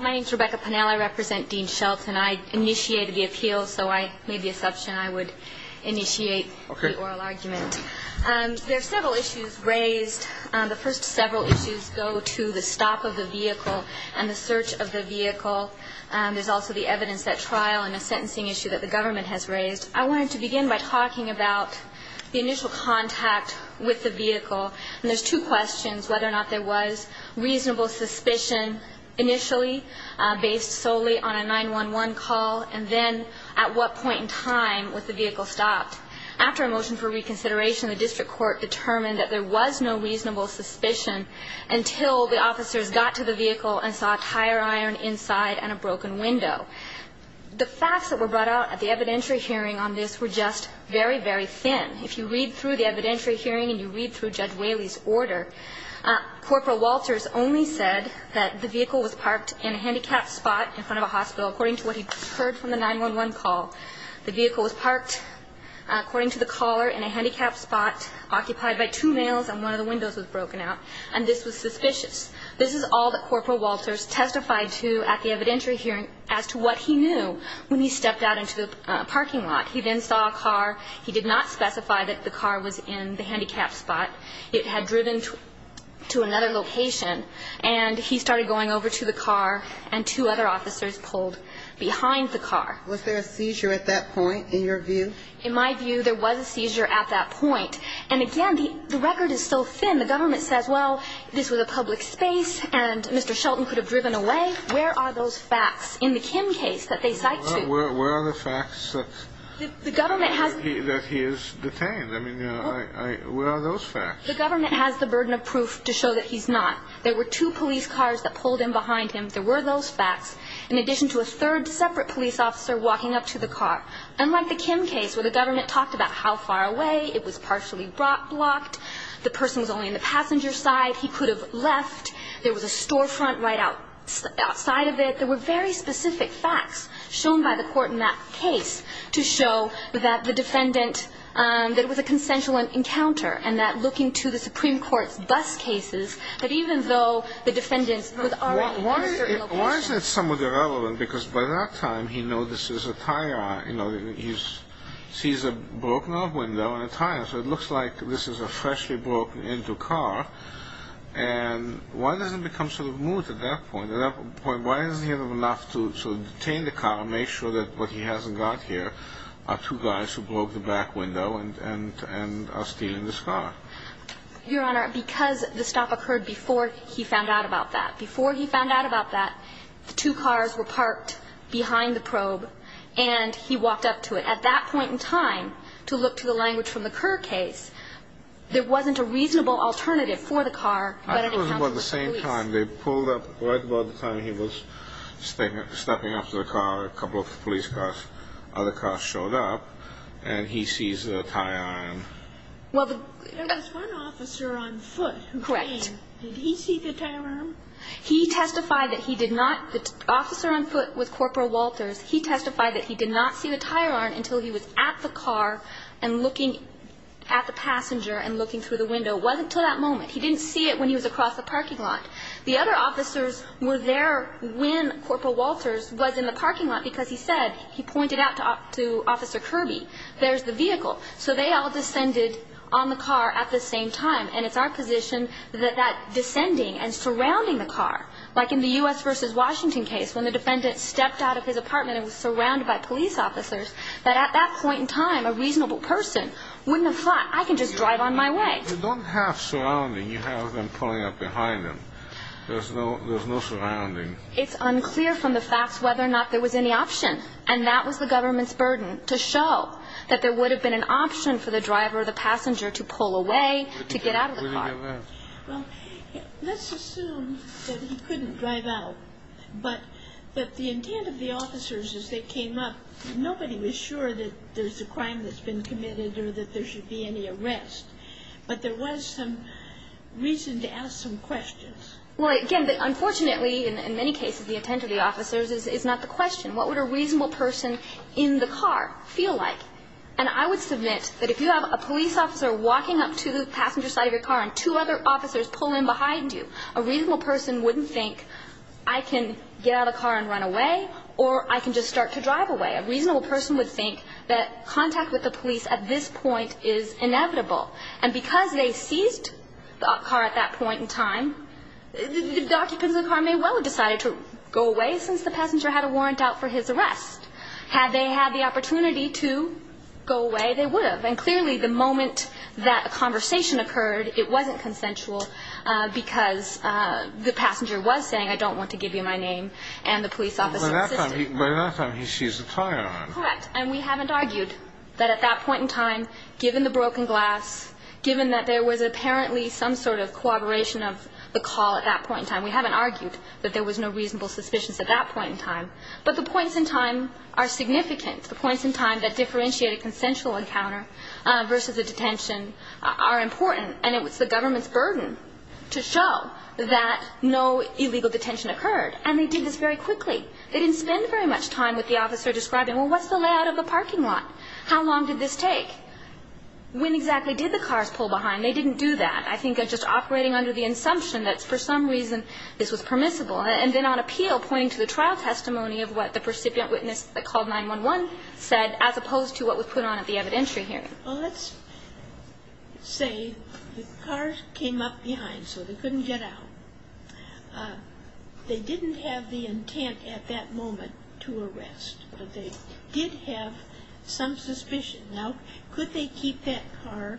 My name is Rebecca Pennell. I represent Dean Shelton. I initiated the appeal, so I made the assumption I would initiate the oral argument. There are several issues raised. The first several issues go to the stop of the vehicle and the search of the vehicle. There's also the evidence at trial and a sentencing issue that the government has raised. I wanted to begin by talking about the initial contact with the vehicle. And there's two questions, whether or not there was reasonable suspicion initially, based solely on a 911 call, and then at what point in time was the vehicle stopped. After a motion for reconsideration, the district court determined that there was no reasonable suspicion until the officers got to the vehicle and saw a tire iron inside and a broken window. The facts that were brought out at the evidentiary hearing on this were just very, very thin. If you read through the evidentiary hearing and you read through Judge Whaley's order, Corporal Walters only said that the vehicle was parked in a handicapped spot in front of a hospital, according to what he'd heard from the 911 call. The vehicle was parked, according to the caller, in a handicapped spot, occupied by two males, and one of the windows was broken out. And this was suspicious. This is all that Corporal Walters testified to at the evidentiary hearing as to what he knew when he stepped out into the parking lot. He then saw a car. He did not specify that the car was in the handicapped spot. It had driven to another location. And he started going over to the car, and two other officers pulled behind the car. Was there a seizure at that point, in your view? In my view, there was a seizure at that point. And, again, the record is so thin. The government says, well, this was a public space, and Mr. Shelton could have driven away. Where are those facts in the Kim case that they cite to? Where are the facts that he is detained? I mean, where are those facts? The government has the burden of proof to show that he's not. There were two police cars that pulled in behind him. There were those facts, in addition to a third separate police officer walking up to the car. Unlike the Kim case, where the government talked about how far away, it was partially blocked, the person was only on the passenger side, he could have left, there was a storefront right outside of it. But there were very specific facts shown by the court in that case to show that the defendant, that it was a consensual encounter, and that looking to the Supreme Court's bus cases, that even though the defendant was already in a certain location. Why is that somewhat irrelevant? Because by that time, he knows this is a tire. He sees a broken-off window and a tire. So it looks like this is a freshly broken-into car. And why does it become sort of moot at that point? Why isn't he enough to detain the car and make sure that what he hasn't got here are two guys who broke the back window and are stealing this car? Your Honor, because the stop occurred before he found out about that. Before he found out about that, the two cars were parked behind the probe, and he walked up to it. At that point in time, to look to the language from the Kerr case, there wasn't a reasonable alternative for the car but an encounter with the police. So at the same time, they pulled up right about the time he was stepping up to the car, a couple of the police cars, other cars showed up, and he sees the tire iron. There was one officer on foot. Correct. Did he see the tire iron? He testified that he did not. The officer on foot was Corporal Walters. He testified that he did not see the tire iron until he was at the car and looking at the passenger and looking through the window. It wasn't until that moment. He didn't see it when he was across the parking lot. The other officers were there when Corporal Walters was in the parking lot because he said, he pointed out to Officer Kirby, there's the vehicle. So they all descended on the car at the same time, and it's our position that that descending and surrounding the car, like in the U.S. v. Washington case when the defendant stepped out of his apartment and was surrounded by police officers, that at that point in time, a reasonable person wouldn't have thought, I can just drive on my way. You don't have surrounding. You have them pulling up behind him. There's no surrounding. It's unclear from the facts whether or not there was any option, and that was the government's burden, to show that there would have been an option for the driver or the passenger to pull away, to get out of the car. Well, let's assume that he couldn't drive out, but the intent of the officers as they came up, nobody was sure that there's a crime that's been committed or that there should be any arrest. But there was some reason to ask some questions. Well, again, unfortunately, in many cases, the intent of the officers is not the question. What would a reasonable person in the car feel like? And I would submit that if you have a police officer walking up to the passenger side of your car and two other officers pull in behind you, a reasonable person wouldn't think, I can get out of the car and run away, or I can just start to drive away. A reasonable person would think that contact with the police at this point is inevitable. And because they seized the car at that point in time, the occupants of the car may well have decided to go away since the passenger had a warrant out for his arrest. Had they had the opportunity to go away, they would have. And clearly, the moment that a conversation occurred, it wasn't consensual because the passenger was saying, I don't want to give you my name, and the police officer insisted. By that time, he seized the car. Correct. And we haven't argued that at that point in time, given the broken glass, given that there was apparently some sort of corroboration of the call at that point in time, we haven't argued that there was no reasonable suspicions at that point in time. But the points in time are significant. The points in time that differentiate a consensual encounter versus a detention are important. And it was the government's burden to show that no illegal detention occurred. And they did this very quickly. They didn't spend very much time with the officer describing, well, what's the layout of the parking lot? How long did this take? When exactly did the cars pull behind? They didn't do that. I think just operating under the assumption that for some reason this was permissible and then on appeal pointing to the trial testimony of what the recipient witness that called 911 said as opposed to what was put on at the evidentiary hearing. Well, let's say the cars came up behind so they couldn't get out. They didn't have the intent at that moment to arrest, but they did have some suspicion. Now, could they keep that car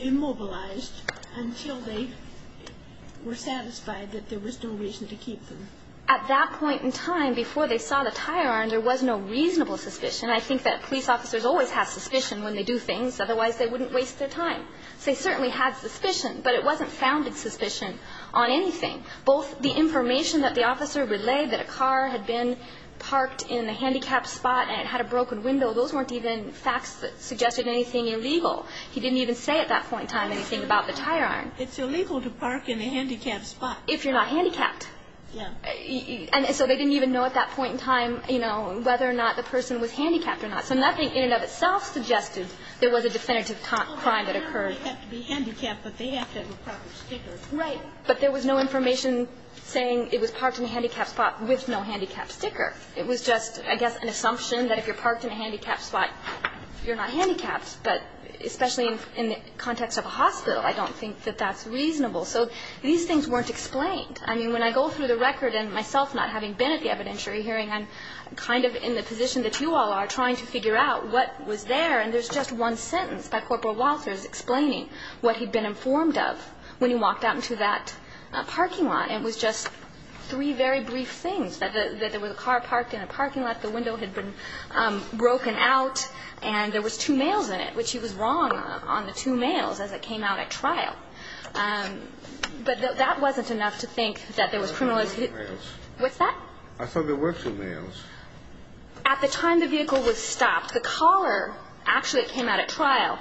immobilized until they were satisfied that there was no reason to keep them? At that point in time, before they saw the tire iron, there was no reasonable suspicion. I think that police officers always have suspicion when they do things. Otherwise, they wouldn't waste their time. So they certainly had suspicion, but it wasn't founded suspicion on anything. Both the information that the officer relayed that a car had been parked in a handicapped spot and it had a broken window, those weren't even facts that suggested anything illegal. He didn't even say at that point in time anything about the tire iron. It's illegal to park in a handicapped spot. If you're not handicapped. Yeah. And so they didn't even know at that point in time, you know, whether or not the person was handicapped or not. So nothing in and of itself suggested there was a definitive crime that occurred. They have to be handicapped, but they have to have a proper sticker. Right. But there was no information saying it was parked in a handicapped spot with no handicapped sticker. It was just, I guess, an assumption that if you're parked in a handicapped spot, you're not handicapped. But especially in the context of a hospital, I don't think that that's reasonable. So these things weren't explained. I mean, when I go through the record, and myself not having been at the evidentiary hearing, I'm kind of in the position that you all are, trying to figure out what was there, and there's just one sentence by Corporal Walters explaining what he'd been informed of when he walked out into that parking lot. It was just three very brief things, that there was a car parked in a parking lot, the window had been broken out, and there was two males in it, which he was wrong on the two males as it came out at trial. But that wasn't enough to think that there was criminalization. I thought there were two males. What's that? I thought there were two males. At the time the vehicle was stopped, the caller actually came out at trial,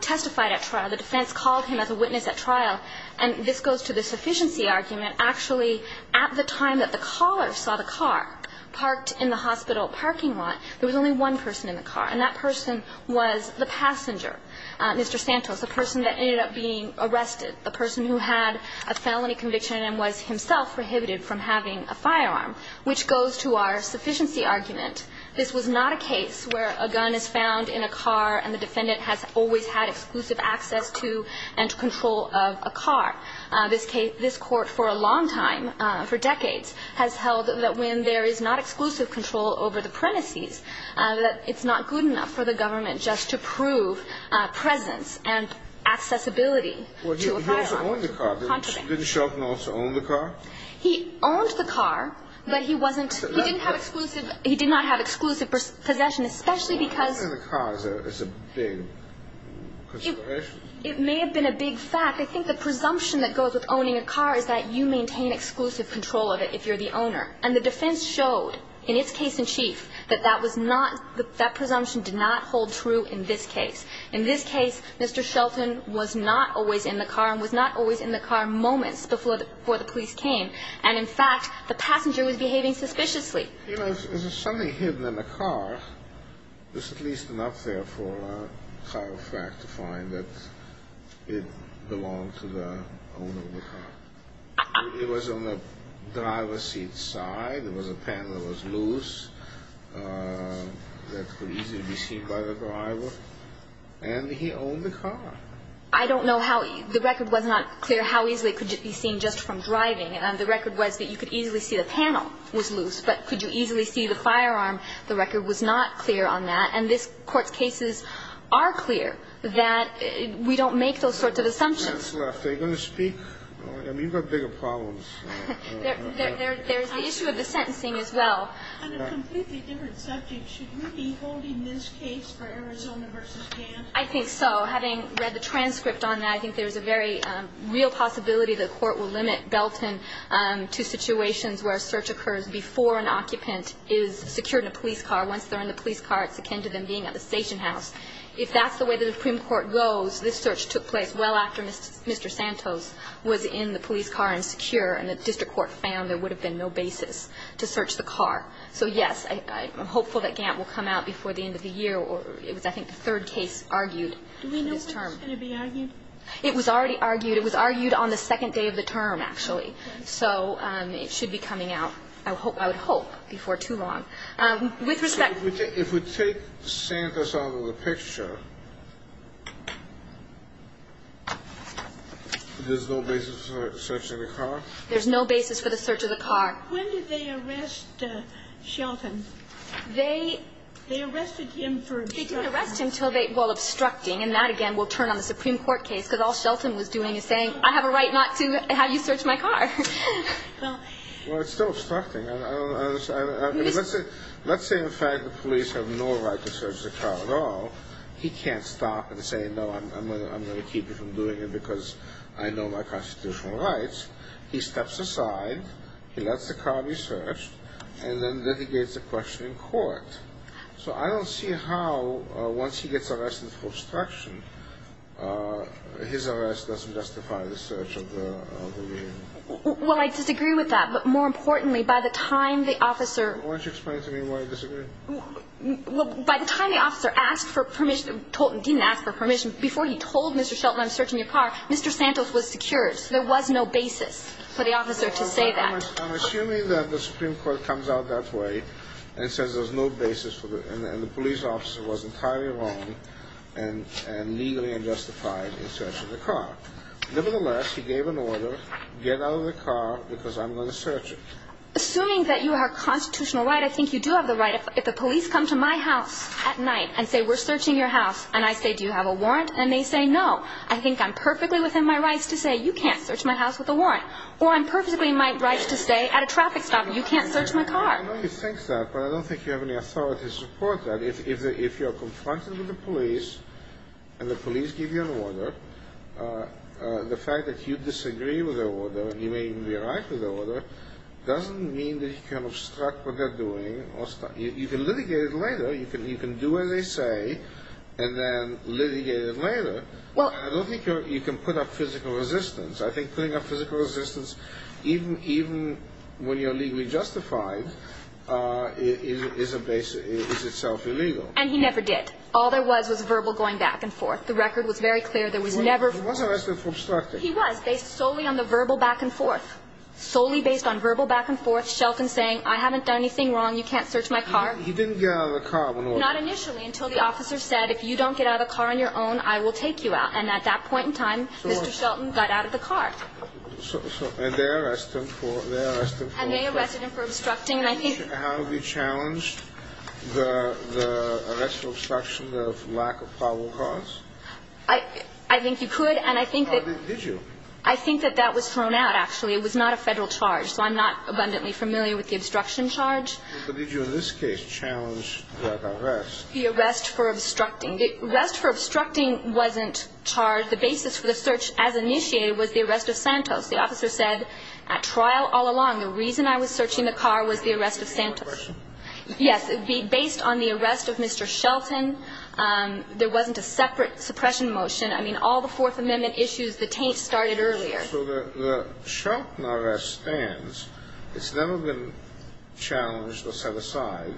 testified at trial. The defense called him as a witness at trial. And this goes to the sufficiency argument. Actually, at the time that the caller saw the car parked in the hospital parking lot, there was only one person in the car, and that person was the passenger, Mr. Santos, the person that ended up being arrested, the person who had a felony conviction and was himself prohibited from having a firearm, which goes to our sufficiency argument. This was not a case where a gun is found in a car and the defendant has always had exclusive access to and control of a car. This court for a long time, for decades, has held that when there is not exclusive control over the premises, that it's not good enough for the government just to prove presence and accessibility to a firearm. He also owned the car. Didn't Sheldon also own the car? He owned the car, but he didn't have exclusive possession, especially because... Owning the car is a big consideration. It may have been a big fact. I think the presumption that goes with owning a car is that you maintain exclusive control of it if you're the owner. And the defense showed, in its case in chief, that that presumption did not hold true in this case. In this case, Mr. Sheldon was not always in the car and was not always in the car moments before the police came. And, in fact, the passenger was behaving suspiciously. If there's something hidden in the car, there's at least enough there for a chiropractor to find that it belonged to the owner of the car. It was on the driver's seat side. There was a panel that was loose that could easily be seen by the driver. And he owned the car. I don't know how... The record was not clear how easily it could be seen just from driving. The record was that you could easily see the panel was loose. But could you easily see the firearm? The record was not clear on that. And this Court's cases are clear that we don't make those sorts of assumptions. If there's any sense left, are you going to speak? I mean, you've got bigger problems. There's the issue of the sentencing as well. On a completely different subject, should we be holding this case for Arizona v. Gantt? I think so. Having read the transcript on that, I think there's a very real possibility the Court will limit Belton to situations where a search occurs before an occupant is secured in a police car. Once they're in the police car, it's akin to them being at the station house. If that's the way the Supreme Court goes, this search took place well after Mr. Santos was in the police car and secure, and the district court found there would have been no basis to search the car. So, yes, I'm hopeful that Gantt will come out before the end of the year. It was, I think, the third case argued in this term. Do we know when it's going to be argued? It was already argued. It was argued on the second day of the term, actually. So it should be coming out, I would hope, before too long. With respect... If we take Santos out of the picture, there's no basis for the search of the car? There's no basis for the search of the car. When did they arrest Shelton? They... They arrested him for obstructing... They didn't arrest him until they... Well, obstructing, and that, again, will turn on the Supreme Court case, because all Shelton was doing is saying, I have a right not to have you search my car. Well, it's still obstructing. Let's say, in fact, the police have no right to search the car at all. He can't stop and say, no, I'm going to keep you from doing it because I know my constitutional rights. He steps aside, he lets the car be searched, and then litigates a question in court. So I don't see how, once he gets arrested for obstruction, his arrest doesn't justify the search of the vehicle. Well, I disagree with that. But more importantly, by the time the officer... Why don't you explain to me why you disagree? Well, by the time the officer asked for permission, didn't ask for permission, before he told Mr. Shelton, I'm searching your car, Mr. Santos was secured. So there was no basis for the officer to say that. I'm assuming that the Supreme Court comes out that way and says there's no basis for the, and the police officer was entirely wrong and legally unjustified in searching the car. Nevertheless, he gave an order, get out of the car because I'm going to search it. Assuming that you have constitutional right, I think you do have the right... If the police come to my house at night and say, we're searching your house, and I say, do you have a warrant? And they say, no. I think I'm perfectly within my rights to say, you can't search my house with a warrant. Or I'm perfectly in my rights to say, at a traffic stop, you can't search my car. I know you think that, but I don't think you have any authority to support that. If you're confronted with the police, and the police give you an order, the fact that you disagree with the order and you may even be right with the order, doesn't mean that you can obstruct what they're doing. You can litigate it later. You can do as they say and then litigate it later. I don't think you can put up physical resistance. I think putting up physical resistance, even when you're legally justified, is itself illegal. And he never did. All there was was verbal going back and forth. The record was very clear. There was never... He was arrested for obstructing. He was, based solely on the verbal back and forth. Solely based on verbal back and forth. Shelton saying, I haven't done anything wrong. You can't search my car. He didn't get out of the car when he was... Not initially, until the officer said, if you don't get out of the car on your own, I will take you out. And at that point in time, Mr. Shelton got out of the car. And they arrested him for... And they arrested him for obstructing. And I think... How have we challenged the arrest for obstruction of lack of probable cause? I think you could. And I think that... Did you? I think that that was thrown out, actually. It was not a Federal charge. So I'm not abundantly familiar with the obstruction charge. But did you, in this case, challenge that arrest? The arrest for obstructing. The arrest for obstructing wasn't charged. The basis for the search, as initiated, was the arrest of Santos. The officer said, at trial all along, the reason I was searching the car was the arrest of Santos. Based on suppression? Yes. Based on the arrest of Mr. Shelton, there wasn't a separate suppression motion. I mean, all the Fourth Amendment issues, the taint started earlier. So the Shelton arrest stands. It's never been challenged or set aside.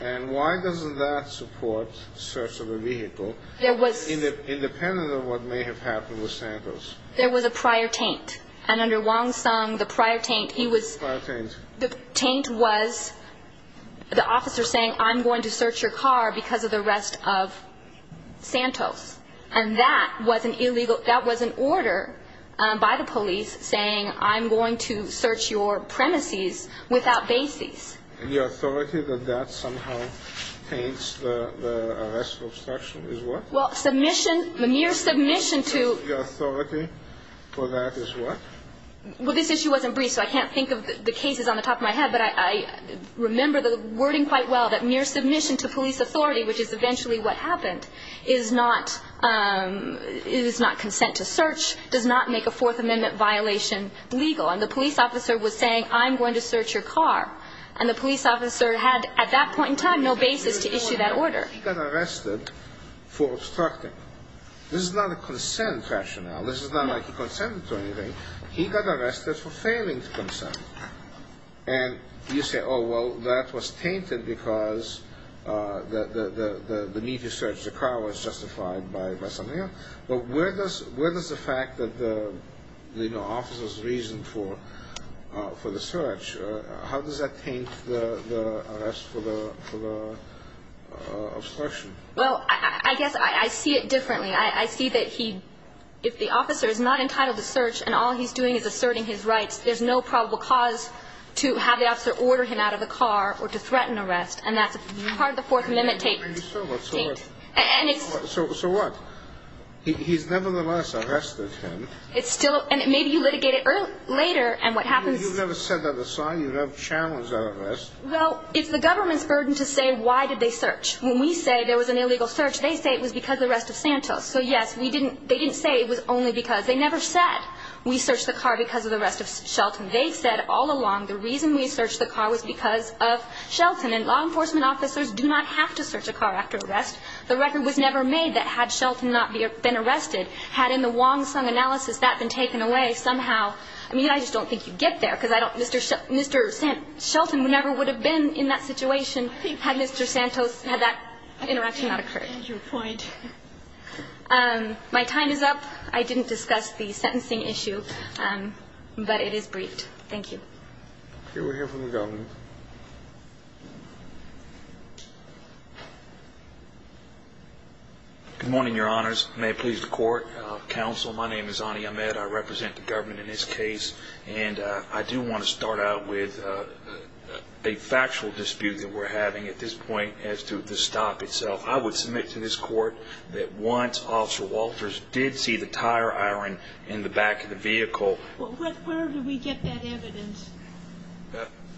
And why doesn't that support search of the vehicle, independent of what may have happened with Santos? There was a prior taint. And under Wong Sung, the prior taint, he was... Prior taint. The taint was the officer saying, I'm going to search your car because of the arrest of Santos. And that was an illegal, that was an order by the police saying, I'm going to search your premises without basis. The authority that that somehow taints the arrest of obstruction is what? Well, submission, the mere submission to... Well, this issue wasn't brief, so I can't think of the cases on the top of my head. But I remember the wording quite well, that mere submission to police authority, which is eventually what happened, is not consent to search, does not make a Fourth Amendment violation legal. And the police officer was saying, I'm going to search your car. And the police officer had, at that point in time, no basis to issue that order. He got arrested for obstructing. This is not a consent rationale. This is not like he consented to anything. He got arrested for failing to consent. And you say, oh, well, that was tainted because the need to search the car was justified by something else. But where does the fact that the officers reasoned for the search, how does that taint the arrest for the obstruction? Well, I guess I see it differently. I see that if the officer is not entitled to search and all he's doing is asserting his rights, there's no probable cause to have the officer order him out of the car or to threaten arrest. And that's part of the Fourth Amendment taint. So what? He's nevertheless arrested him. And maybe you litigate it later, and what happens... You've never set that aside. You've never challenged that arrest. Well, it's the government's burden to say why did they search. When we say there was an illegal search, they say it was because of the arrest of Santos. So, yes, they didn't say it was only because. They never said we searched the car because of the arrest of Shelton. They said all along the reason we searched the car was because of Shelton. And law enforcement officers do not have to search a car after arrest. The record was never made that had Shelton not been arrested, had in the Wong-Sung analysis that been taken away somehow. I mean, I just don't think you'd get there because I don't Mr. Shelton never would have been in that situation had Mr. Santos, had that interaction not occurred. Your point. My time is up. I didn't discuss the sentencing issue, but it is briefed. Thank you. We'll hear from the government. Good morning, Your Honors. May it please the Court. Counsel, my name is Ani Ahmed. I represent the government in this case. And I do want to start out with a factual dispute that we're having at this point as to the stop itself. I would submit to this Court that once Officer Walters did see the tire iron in the back of the vehicle. Where did we get that evidence?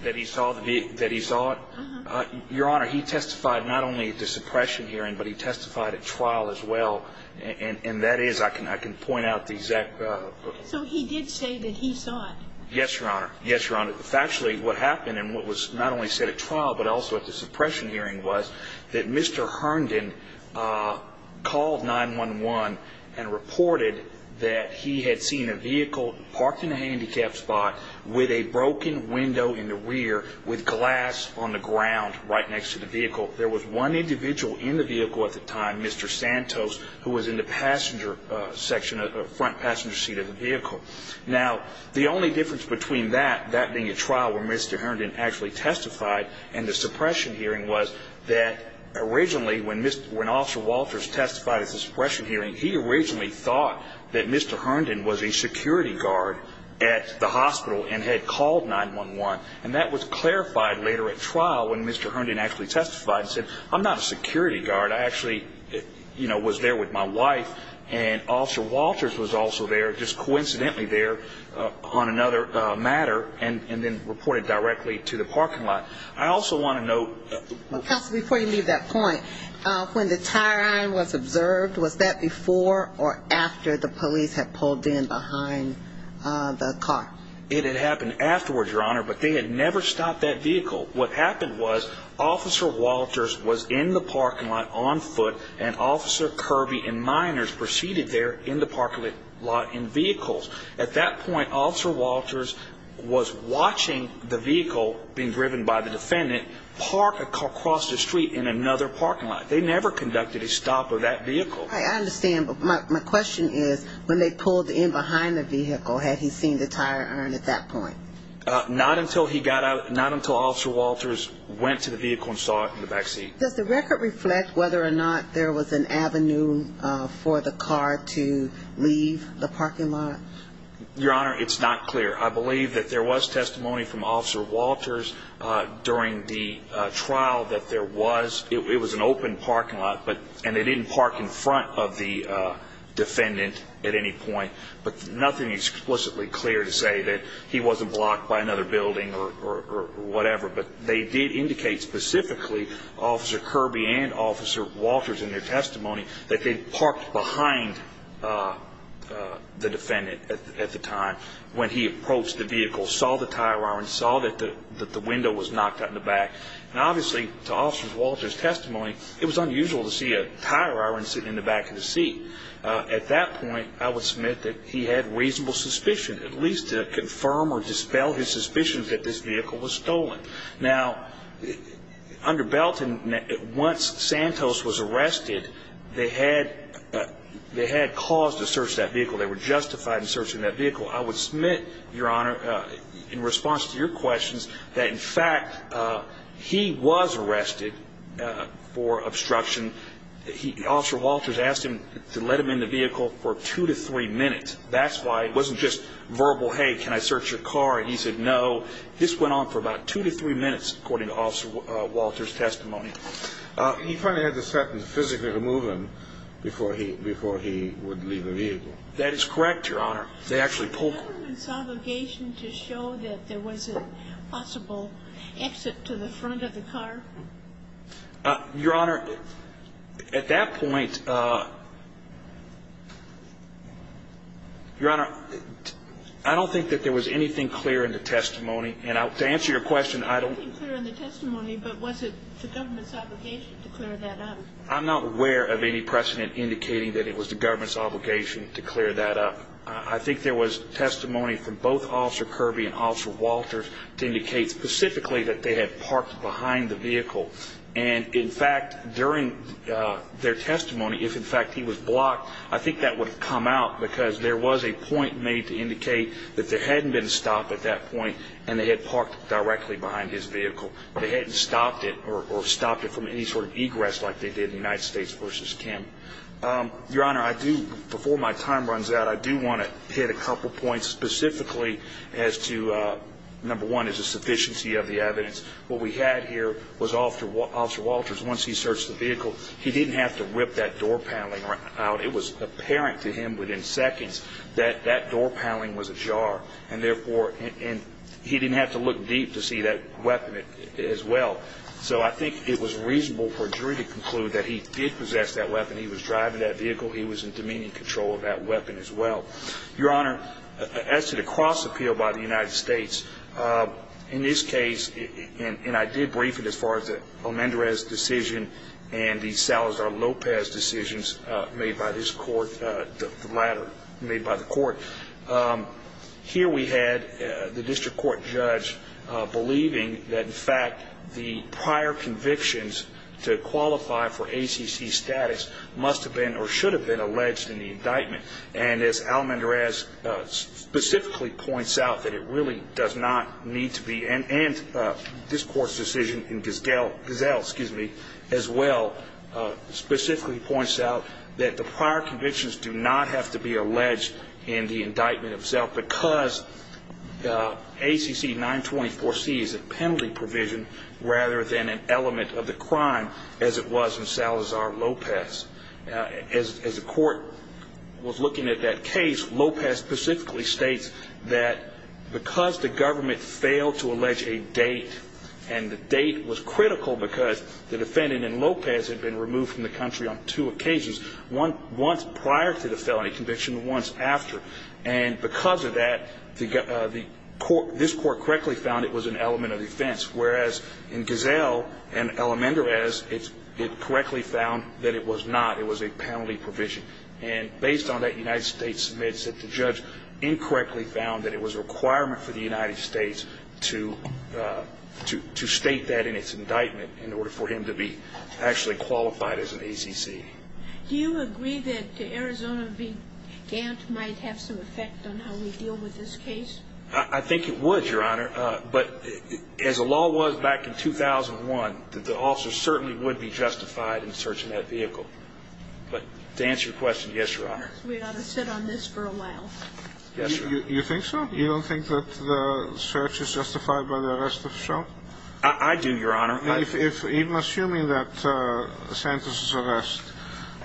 That he saw it? Uh-huh. Your Honor, he testified not only at the suppression hearing, but he testified at trial as well. And that is, I can point out the exact. So he did say that he saw it. Yes, Your Honor. Yes, Your Honor. Factually, what happened and what was not only said at trial, but also at the suppression hearing, was that Mr. Herndon called 911 and reported that he had seen a vehicle parked in a handicapped spot with a broken window in the rear with glass on the ground right next to the vehicle. There was one individual in the vehicle at the time, Mr. Santos, who was in the front passenger seat of the vehicle. Now, the only difference between that, that being at trial where Mr. Herndon actually testified, and the suppression hearing was that originally when Officer Walters testified at the suppression hearing, he originally thought that Mr. Herndon was a security guard at the hospital and had called 911. And that was clarified later at trial when Mr. Herndon actually testified and said, I'm not a security guard. I actually, you know, was there with my wife. And Officer Walters was also there, just coincidentally there on another matter, and then reported directly to the parking lot. I also want to note. Counsel, before you leave that point, when the tire iron was observed, was that before or after the police had pulled in behind the car? It had happened afterwards, Your Honor, but they had never stopped that vehicle. What happened was Officer Walters was in the parking lot on foot, and Officer Kirby and minors proceeded there in the parking lot in vehicles. At that point, Officer Walters was watching the vehicle being driven by the defendant park across the street in another parking lot. They never conducted a stop of that vehicle. I understand, but my question is when they pulled in behind the vehicle, had he seen the tire iron at that point? Not until he got out, not until Officer Walters went to the vehicle and saw it in the back seat. Does the record reflect whether or not there was an avenue for the car to leave the parking lot? Your Honor, it's not clear. I believe that there was testimony from Officer Walters during the trial that there was, it was an open parking lot, and they didn't park in front of the defendant at any point, but nothing explicitly clear to say that he wasn't blocked by another building or whatever. But they did indicate specifically, Officer Kirby and Officer Walters in their testimony, that they parked behind the defendant at the time when he approached the vehicle, saw the tire iron, saw that the window was knocked out in the back. And obviously, to Officer Walters' testimony, it was unusual to see a tire iron sitting in the back of the seat. At that point, I would submit that he had reasonable suspicion, at least to confirm or dispel his suspicion that this vehicle was stolen. Now, under Belton, once Santos was arrested, they had cause to search that vehicle. They were justified in searching that vehicle. I would submit, Your Honor, in response to your questions, that in fact he was arrested for obstruction. Officer Walters asked him to let him in the vehicle for two to three minutes. That's why it wasn't just verbal, hey, can I search your car? And he said no. This went on for about two to three minutes, according to Officer Walters' testimony. He finally had the sentence physically remove him before he would leave the vehicle. That is correct, Your Honor. Was it the gentleman's obligation to show that there was a possible exit to the front of the car? Your Honor, at that point, Your Honor, I don't think that there was anything clear in the testimony. And to answer your question, I don't. There was nothing clear in the testimony, but was it the government's obligation to clear that up? I'm not aware of any precedent indicating that it was the government's obligation to clear that up. I think there was testimony from both Officer Kirby and Officer Walters to indicate specifically that they had parked behind the vehicle. And, in fact, during their testimony, if, in fact, he was blocked, I think that would have come out because there was a point made to indicate that there hadn't been a stop at that point and they had parked directly behind his vehicle. They hadn't stopped it or stopped it from any sort of egress like they did in United States v. Kim. Your Honor, I do, before my time runs out, I do want to hit a couple points specifically as to, number one, is the sufficiency of the evidence. What we had here was Officer Walters, once he searched the vehicle, he didn't have to rip that door paneling out. It was apparent to him within seconds that that door paneling was ajar. And, therefore, he didn't have to look deep to see that weapon as well. So I think it was reasonable for a jury to conclude that he did possess that weapon. He was driving that vehicle. He was in demeaning control of that weapon as well. Your Honor, as to the cross appeal by the United States, in this case, and I did brief it as far as the Almendrez decision and the Salazar-Lopez decisions made by this court, the latter made by the court, here we had the district court judge believing that, in fact, the prior convictions to qualify for ACC status must have been or should have been alleged in the indictment. And as Almendrez specifically points out, that it really does not need to be, and this court's decision in Giselle as well specifically points out that the prior convictions do not have to be alleged in the indictment itself because ACC 924C is a penalty provision rather than an element of the crime as it was in Salazar-Lopez. As the court was looking at that case, Lopez specifically states that because the government failed to allege a date, and the date was critical because the defendant in Lopez had been removed from the country on two occasions, once prior to the felony conviction and once after. And because of that, this court correctly found it was an element of the offense, whereas in Giselle and Almendrez, it correctly found that it was not. It was a penalty provision. And based on that, the United States admits that the judge incorrectly found that it was a requirement for the United States to state that in its indictment in order for him to be actually qualified as an ACC. Do you agree that Arizona being damp might have some effect on how we deal with this case? I think it would, Your Honor. But as the law was back in 2001, that the officer certainly would be justified in searching that vehicle. But to answer your question, yes, Your Honor. We ought to sit on this for a while. Yes, Your Honor. You think so? You don't think that the search is justified by the arrest of Sheldon? I do, Your Honor. Even assuming that the sentence is arrest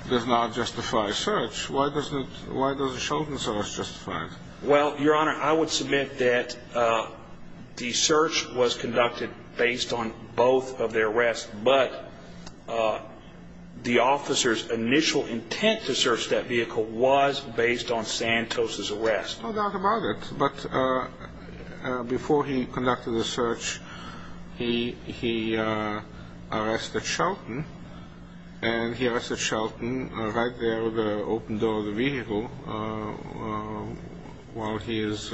does not justify search, why does Sheldon's arrest justify it? Well, Your Honor, I would submit that the search was conducted based on both of their arrests, but the officer's initial intent to search that vehicle was based on Santos's arrest. No doubt about it. But before he conducted the search, he arrested Sheldon, and he arrested Sheldon right there with the open door of the vehicle while he is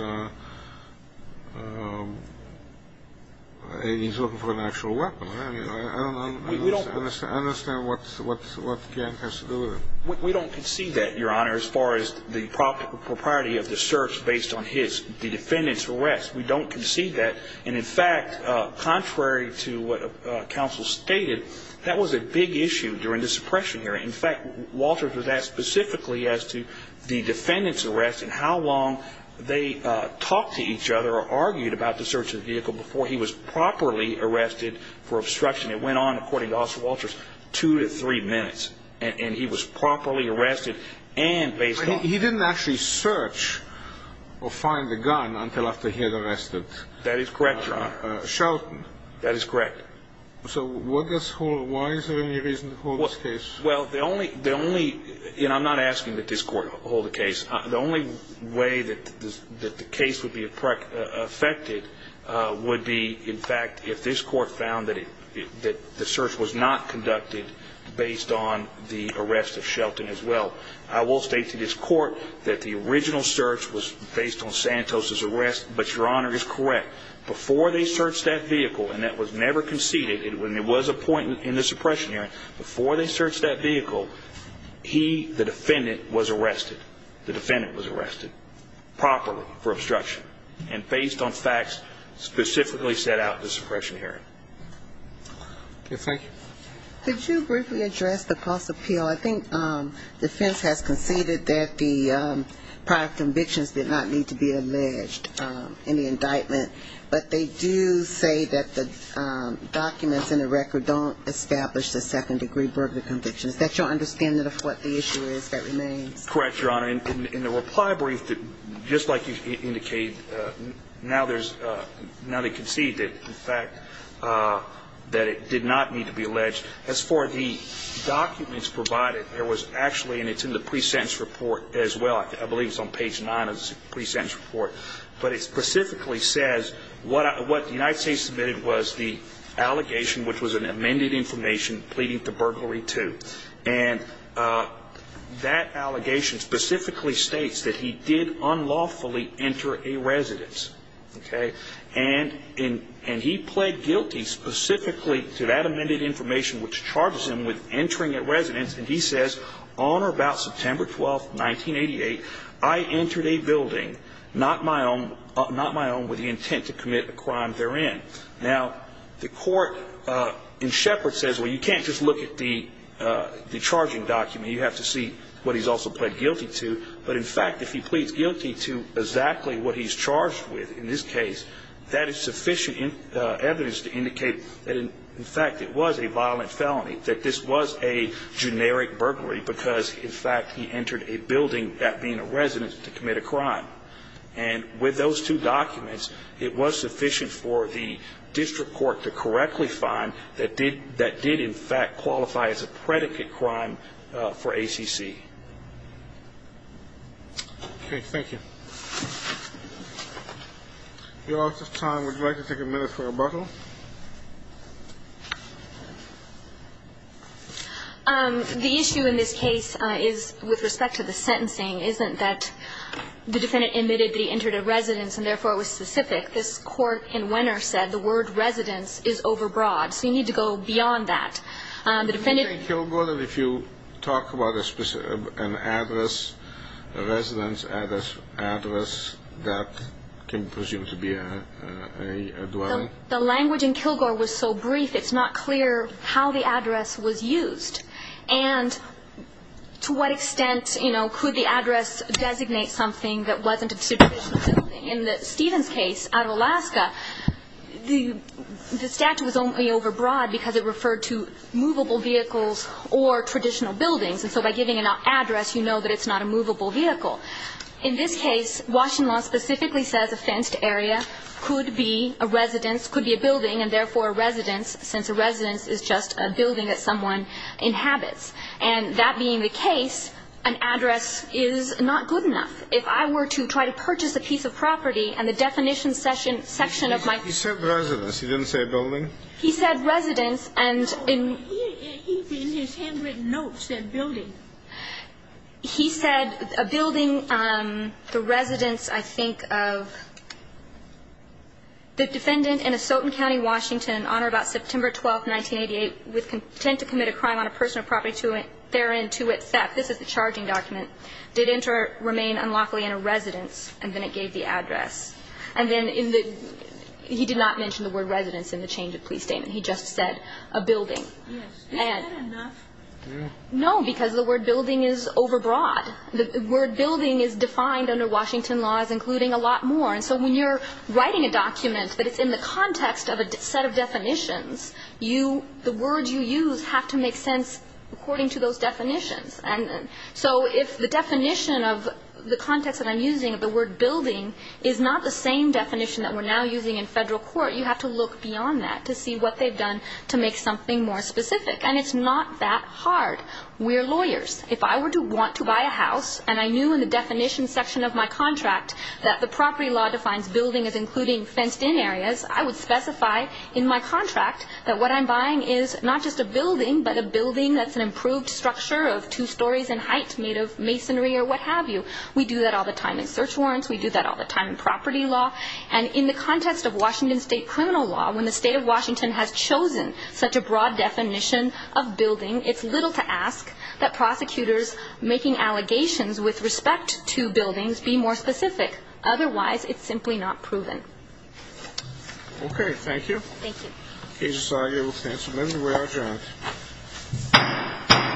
looking for an actual weapon. I don't understand what Gant has to do with it. We don't concede that, Your Honor, as far as the propriety of the search based on the defendant's arrest. We don't concede that. And, in fact, contrary to what counsel stated, that was a big issue during the suppression hearing. In fact, Walters was asked specifically as to the defendant's arrest and how long they talked to each other or argued about the search of the vehicle before he was properly arrested for obstruction. It went on, according to Officer Walters, two to three minutes, and he was properly arrested and based on He didn't actually search or find the gun until after he was arrested. That is correct, Your Honor. Sheldon. That is correct. So why is there any reason to hold this case? Well, the only – and I'm not asking that this Court hold the case. The only way that the case would be affected would be, in fact, if this Court found that the search was not conducted based on the arrest of Sheldon as well. I will state to this Court that the original search was based on Santos's arrest, but Your Honor is correct. Before they searched that vehicle, and that was never conceded, when there was a point in the suppression hearing, before they searched that vehicle, he, the defendant, was arrested. The defendant was arrested properly for obstruction and based on facts specifically set out in the suppression hearing. Okay. Thank you. Could you briefly address the cost appeal? Well, I think defense has conceded that the prior convictions did not need to be alleged in the indictment, but they do say that the documents in the record don't establish the second-degree burglar convictions. Is that your understanding of what the issue is that remains? Correct, Your Honor. In the reply brief, just like you indicated, now they concede that, in fact, that it did not need to be alleged. As far as the documents provided, there was actually, and it's in the pre-sentence report as well, I believe it's on page 9 of the pre-sentence report, but it specifically says what the United States submitted was the allegation, which was an amended information pleading to burglary two. And that allegation specifically states that he did unlawfully enter a residence. Okay. And he pled guilty specifically to that amended information, which charges him with entering a residence. And he says, on or about September 12, 1988, I entered a building, not my own, with the intent to commit a crime therein. Now, the court in Shepard says, well, you can't just look at the charging document. You have to see what he's also pled guilty to. But, in fact, if he pleads guilty to exactly what he's charged with in this case, that is sufficient evidence to indicate that, in fact, it was a violent felony, that this was a generic burglary because, in fact, he entered a building, that being a residence, to commit a crime. And with those two documents, it was sufficient for the district court to correctly find that did, in fact, qualify as a predicate crime for ACC. Okay. Thank you. Your Honor, at this time, would you like to take a minute for rebuttal? The issue in this case is, with respect to the sentencing, isn't that the defendant admitted that he entered a residence and, therefore, it was specific. This court in Wenner said the word residence is overbroad. So you need to go beyond that. The defendant ---- In Kilgore, if you talk about an address, a residence address that can presume to be a dwelling? The language in Kilgore was so brief, it's not clear how the address was used and to what extent, you know, could the address designate something that wasn't a situation. In Stephen's case, out of Alaska, the statute was only overbroad because it referred to movable vehicles or traditional buildings. And so by giving an address, you know that it's not a movable vehicle. In this case, Washington law specifically says a fenced area could be a residence, could be a building, and, therefore, a residence, since a residence is just a building that someone inhabits. And that being the case, an address is not good enough. If I were to try to purchase a piece of property and the definition section of my ---- He said residence. He didn't say building. He said residence, and in ---- He, in his handwritten notes, said building. He said a building, the residence, I think, of the defendant in Asotin County, Washington, on or about September 12th, 1988, with contempt to commit a crime on a personal property, therein to which theft, this is the charging document, did enter, remain unlawfully in a residence, and then it gave the address. And then in the ---- he did not mention the word residence in the change of police statement. He just said a building. Yes. Is that enough? No, because the word building is overbroad. The word building is defined under Washington laws, including a lot more. And so when you're writing a document that is in the context of a set of definitions, the words you use have to make sense according to those definitions. And so if the definition of the context that I'm using, the word building, is not the same definition that we're now using in federal court, you have to look beyond that to see what they've done to make something more specific. And it's not that hard. We're lawyers. If I were to want to buy a house and I knew in the definition section of my contract that the property law defines building as including fenced-in areas, I would specify in my contract that what I'm buying is not just a building, but a building that's an improved structure of two stories in height made of masonry or what have you. We do that all the time in search warrants. We do that all the time in property law. And in the context of Washington state criminal law, when the state of Washington has chosen such a broad definition of building, it's little to ask that prosecutors making allegations with respect to buildings be more specific. Otherwise, it's simply not proven. Okay. Thank you. Thank you. Agency, I yield the floor. We are adjourned.